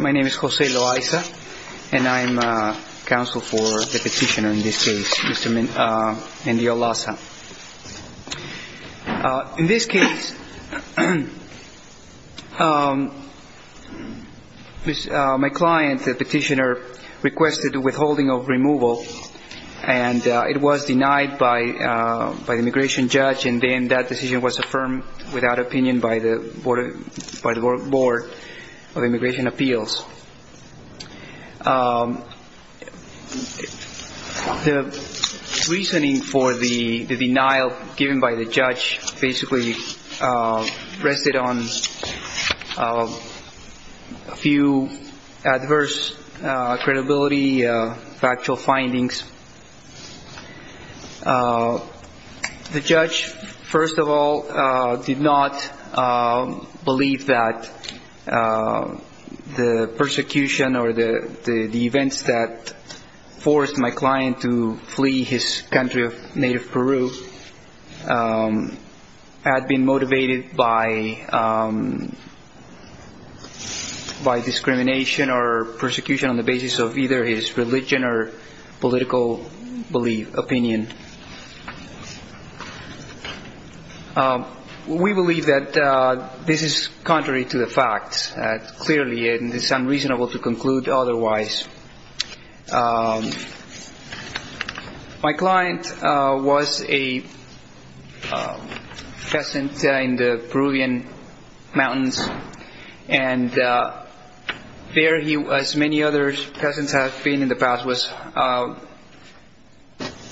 My name is Jose Loaiza and I am counsel for the petitioner in this case, Mr. Mendiolaza. In this case, my client, the petitioner, requested the withholding of removal and it was denied by the immigration judge and then that decision was affirmed without opinion by the board of immigration appeals. The reasoning for the denial given by the judge basically rested on a few adverse credibility, factual findings. The judge, first of all, did not believe that the persecution or the events that forced my client to flee his country of native Peru had been motivated by discrimination or persecution on the basis of either his religion or political opinion. We believe that this is contrary to the facts. Clearly it is unreasonable to conclude otherwise. My client was a peasant in the Peruvian mountains and there he was, as many other peasants have been in the past, was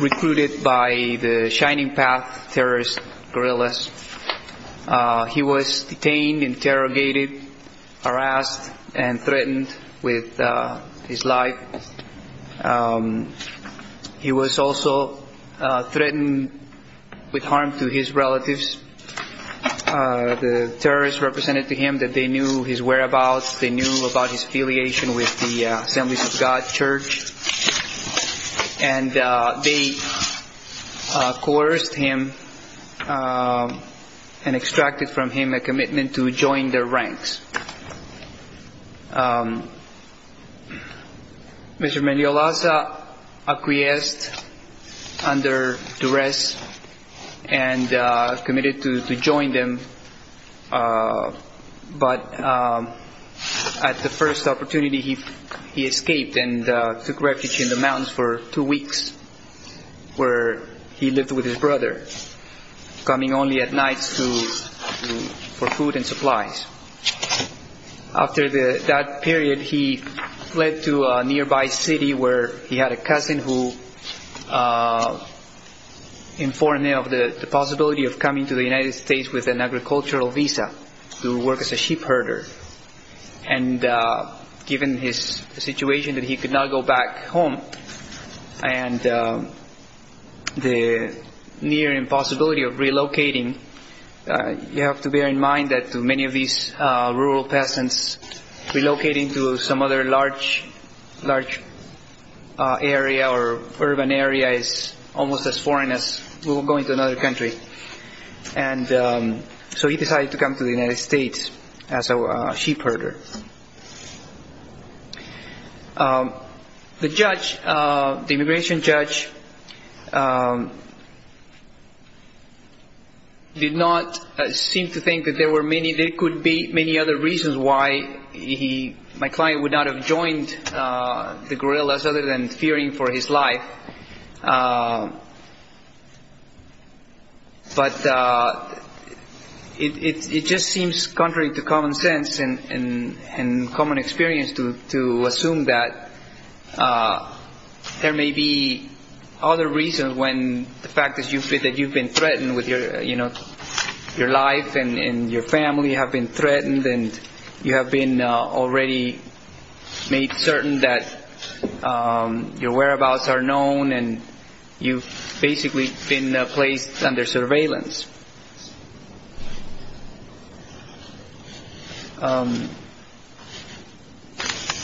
recruited by the Shining Path terrorist guerrillas. He was detained, interrogated, harassed and threatened with his life. He was also threatened with harm to his relatives. The terrorists represented to him that they knew his whereabouts, they knew about his affiliation with the joined their ranks. Mr. Meliolaza acquiesced under duress and committed to join them, but at the first opportunity he escaped and took refuge in the mountains for two weeks where he lived with his brother, coming only at nights for food and supplies. After that period he fled to a nearby city where he had a cousin who informed him of the possibility of coming to the United States with an agricultural visa to work as a relocating. You have to bear in mind that many of these rural peasants relocating to some other large area or urban area is almost as foreign as going to another country. So he decided to come to the United States as a sheep herder. The judge, the immigration judge did not seem to think that there were many, there could be many other reasons why he, my client would not have joined the guerrillas other than fearing for his life. But it just seems contrary to common sense and common experience to assume that there may be other reasons when the fact is that you've been threatened with your life and your family have been threatened and you have been already made certain that your whereabouts are known and you've basically been placed under surveillance.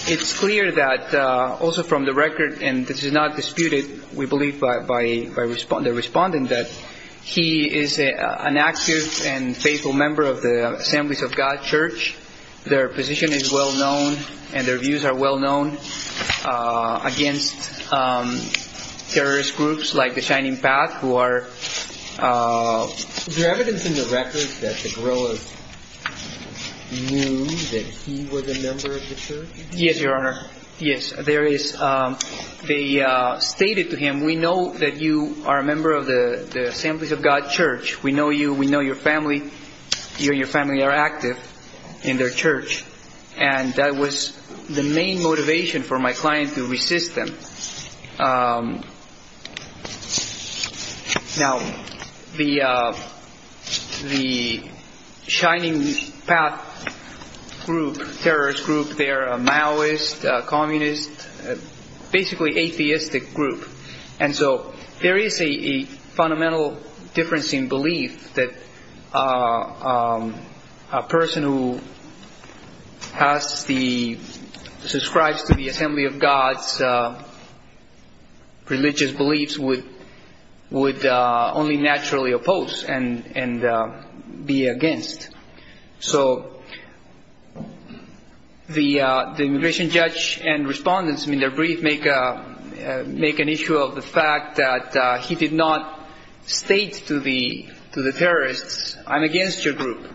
It's clear that also from the record and this is not disputed we believe by the respondent that he is an active and faithful member of the Assemblies of God Church. Their position is well known and their views are well known against terrorist groups like the Shining Path who are... Is there evidence in the records that the guerrillas knew that he was a member of the church? Yes, your honor. Yes, there is. They stated to him, we know that you are a member of the Assemblies of God Church. We know you, we know that you and your family are active in their church and that was the main motivation for my client to resist them. Now, the Shining Path group, terrorist group, they are a Maoist, a communist, basically atheistic group. And so there is a fundamental difference in a person who has the... Subscribes to the Assembly of God's religious beliefs would only naturally oppose and be against. So the immigration judge and respondents in their brief make an issue of the fact that he did not state to the terrorists, I'm against your group.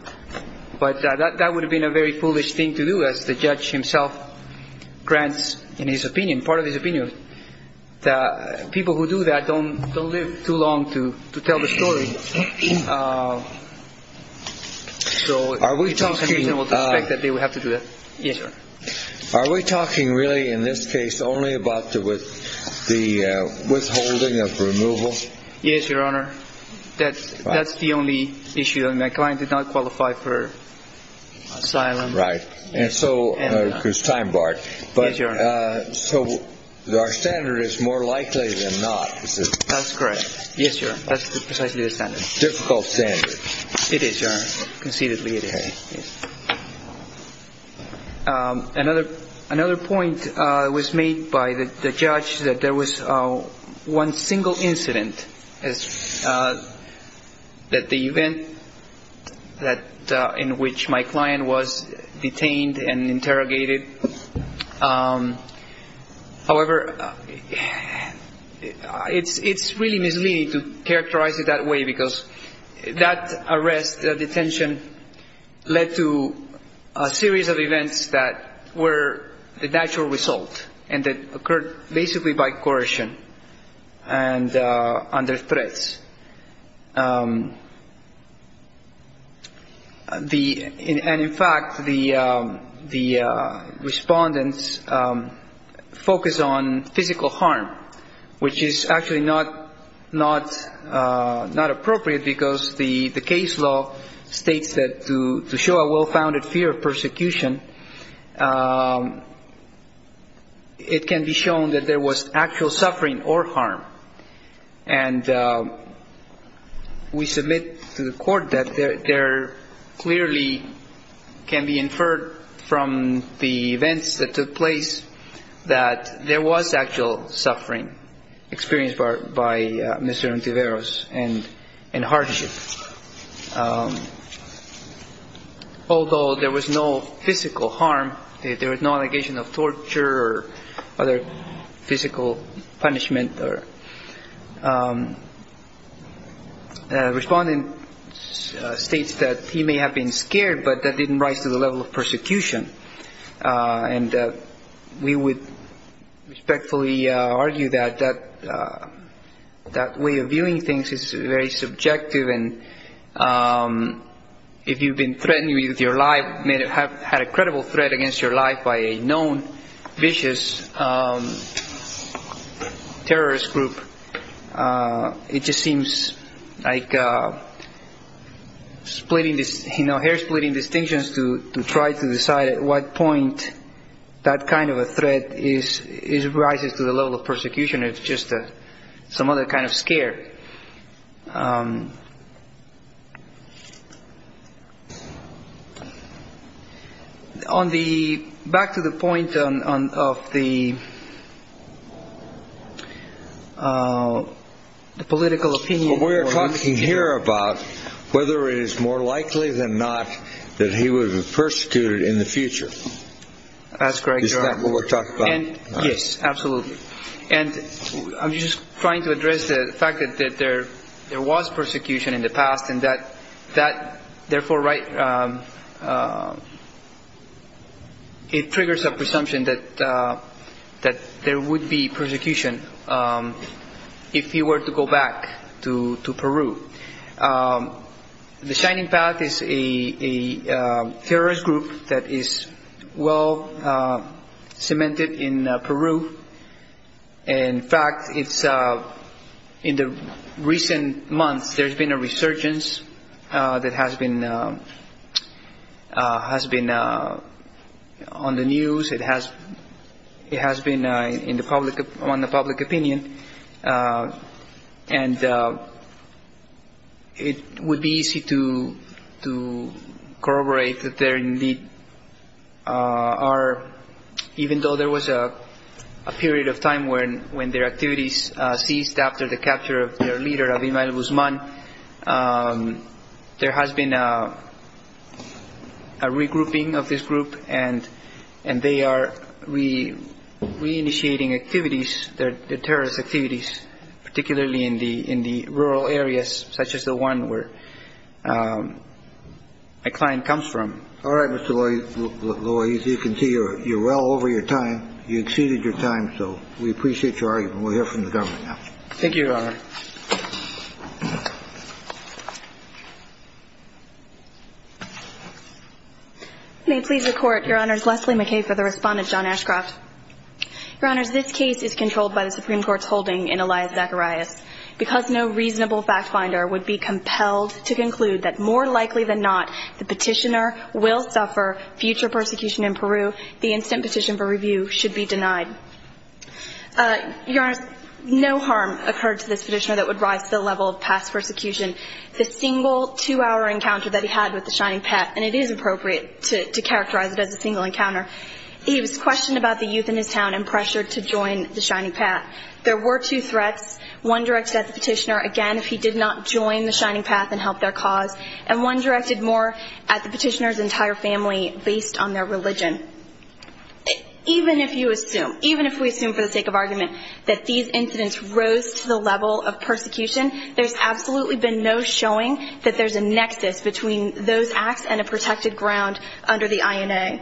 But that would have been a very foolish thing to do as the judge himself grants in his opinion, part of his opinion, that people who do that don't live too long to tell the truth. Are you talking really in this case only about the withholding of removal? Yes, your honor. That's the only issue. My client did not qualify for asylum. Right. And so, it's time barred. Yes, your honor. So our standard is more likely than not. That's correct. Yes, your honor. That's precisely the point. Another point was made by the judge that there was one single incident, that the event in which my client was detained and interrogated. However, it's really misleading to characterize it that way, because that arrest, that detention, led to a series of events that were the natural result and that occurred basically by coercion and under threats. And in fact, the respondents focus on physical harm, which is actually not appropriate because the can be shown that there was actual suffering or harm. And we submit to the court that there clearly can be inferred from the events that took place that there was actual physical punishment. The respondent states that he may have been scared, but that didn't rise to the level of persecution. And we would respectfully argue that that way of the terrorist group, it just seems like splitting this hair, splitting distinctions to try to decide at what point that kind of a threat is rises to the level of persecution. It's just some other kind of scare. On the back to the point of the political opinion, what we're talking here about, whether it is more likely than not that he would have I'm just trying to address the fact that there was persecution in the past, and that, therefore, it triggers a presumption that there would be persecution if he were to go back to Peru. The Shining Path is a terrorist group that is well-cemented in Peru. In fact, in the recent months, there's been a resurgence that has been on the news. It has been on the public opinion. And it would be easy to corroborate that there indeed are, even though there was a period of time when their activities ceased after the capture of their leader, Abimael Guzman, there has been a regrouping of this group. And they are re-initiating activities, terrorist activities, particularly in the rural areas, such as the one where my client comes from. All right, Mr. Loaiz, you can see you're well over your time. You exceeded your time. So we appreciate your argument. We'll hear from the government now. Thank you, Your Honor. May it please the Court, Your Honors, Leslie McKay for the respondent, John Ashcroft. Your Honors, this case is controlled by the Supreme Court's holding in Elias Zacharias. Because no reasonable fact finder would be compelled to conclude that more likely than not the petitioner will suffer future persecution in Peru, the instant petition for review should be denied. Your Honors, no harm occurred to this petitioner that would rise to the level of past persecution. The single two-hour encounter that he had with the Shining Path, and it is appropriate to characterize it as a single encounter, he was questioned about the youth in his town and pressured to join the Shining Path. There were two threats, one directed at the petitioner, again, if he did not join the Shining Path and help their cause, and one directed more at the petitioner's entire family based on their religion. Even if you assume, even if we assume for the sake of argument that these incidents rose to the level of persecution, there's absolutely been no showing that there's a nexus between those acts and a protected ground under the INA.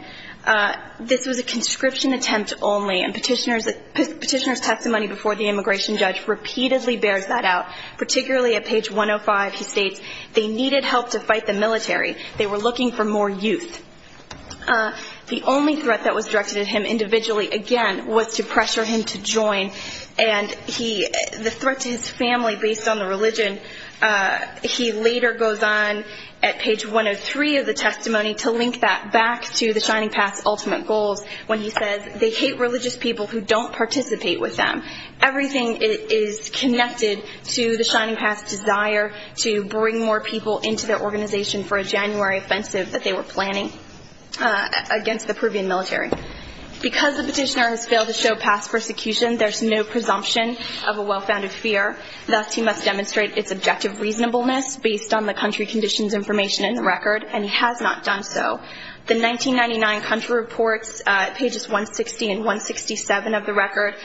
This was a conscription attempt only, and petitioner's testimony before the immigration judge repeatedly bears that out. Particularly at page 105, he states, they needed help to fight the military. They were looking for more youth. The only threat that was directed at him individually, again, was to pressure him to join. And the threat to his family based on the religion, he later goes on at page 103 of the testimony to link that back to the Shining Path's ultimate goals when he says, they hate religious people who don't participate with them. Everything is connected to the Shining Path's desire to bring more people into their organization for a January offensive that they were planning against the Peruvian military. Because the petitioner has failed to show past persecution, there's no presumption of a well-founded fear. Thus, he must demonstrate its objective reasonableness based on the country conditions information in the record, and he has not done so. The 1999 country reports, pages 160 and 167 of the record,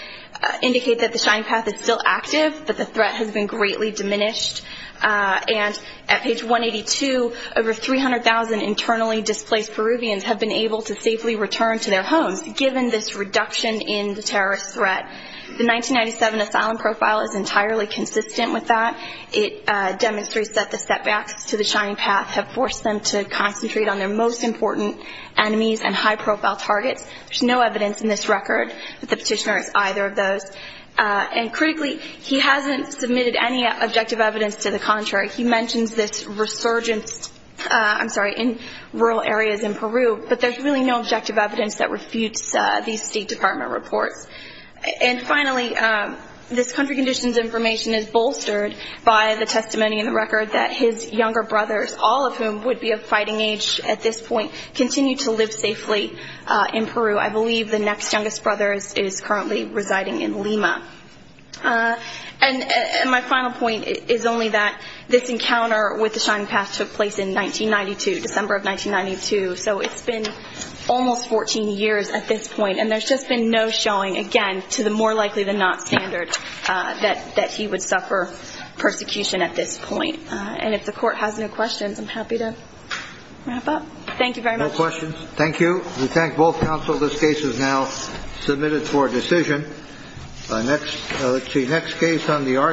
indicate that the Shining Path is still active, but the threat has been greatly diminished. And at page 182, over 300,000 internally displaced Peruvians have been able to safely return to their homes, given this reduction in the terrorist threat. The 1997 asylum profile is entirely consistent with that. It demonstrates that the setbacks to the Shining Path have forced them to concentrate on their most important enemies and high-profile targets. There's no evidence in this record that the petitioner is either of those. And critically, he hasn't submitted any objective evidence to the contrary. He mentions this resurgence in rural areas in Peru, but there's really no objective evidence that refutes these State Department reports. And finally, this country conditions information is bolstered by the testimony in the record that his younger brothers, all of whom would be of fighting age at this point, continue to live safely in Peru. I believe the next youngest brother is currently residing in Lima. And my final point is only that this encounter with the Shining Path took place in 1992, December of 1992, so it's been almost 14 years at this point. And there's just been no showing, again, to the more likely-than-not standard that he would suffer persecution at this point. And if the court has no questions, I'm happy to wrap up. Thank you very much. No questions. Thank you. We thank both counsel. This case is now submitted for decision. The next case on the argument...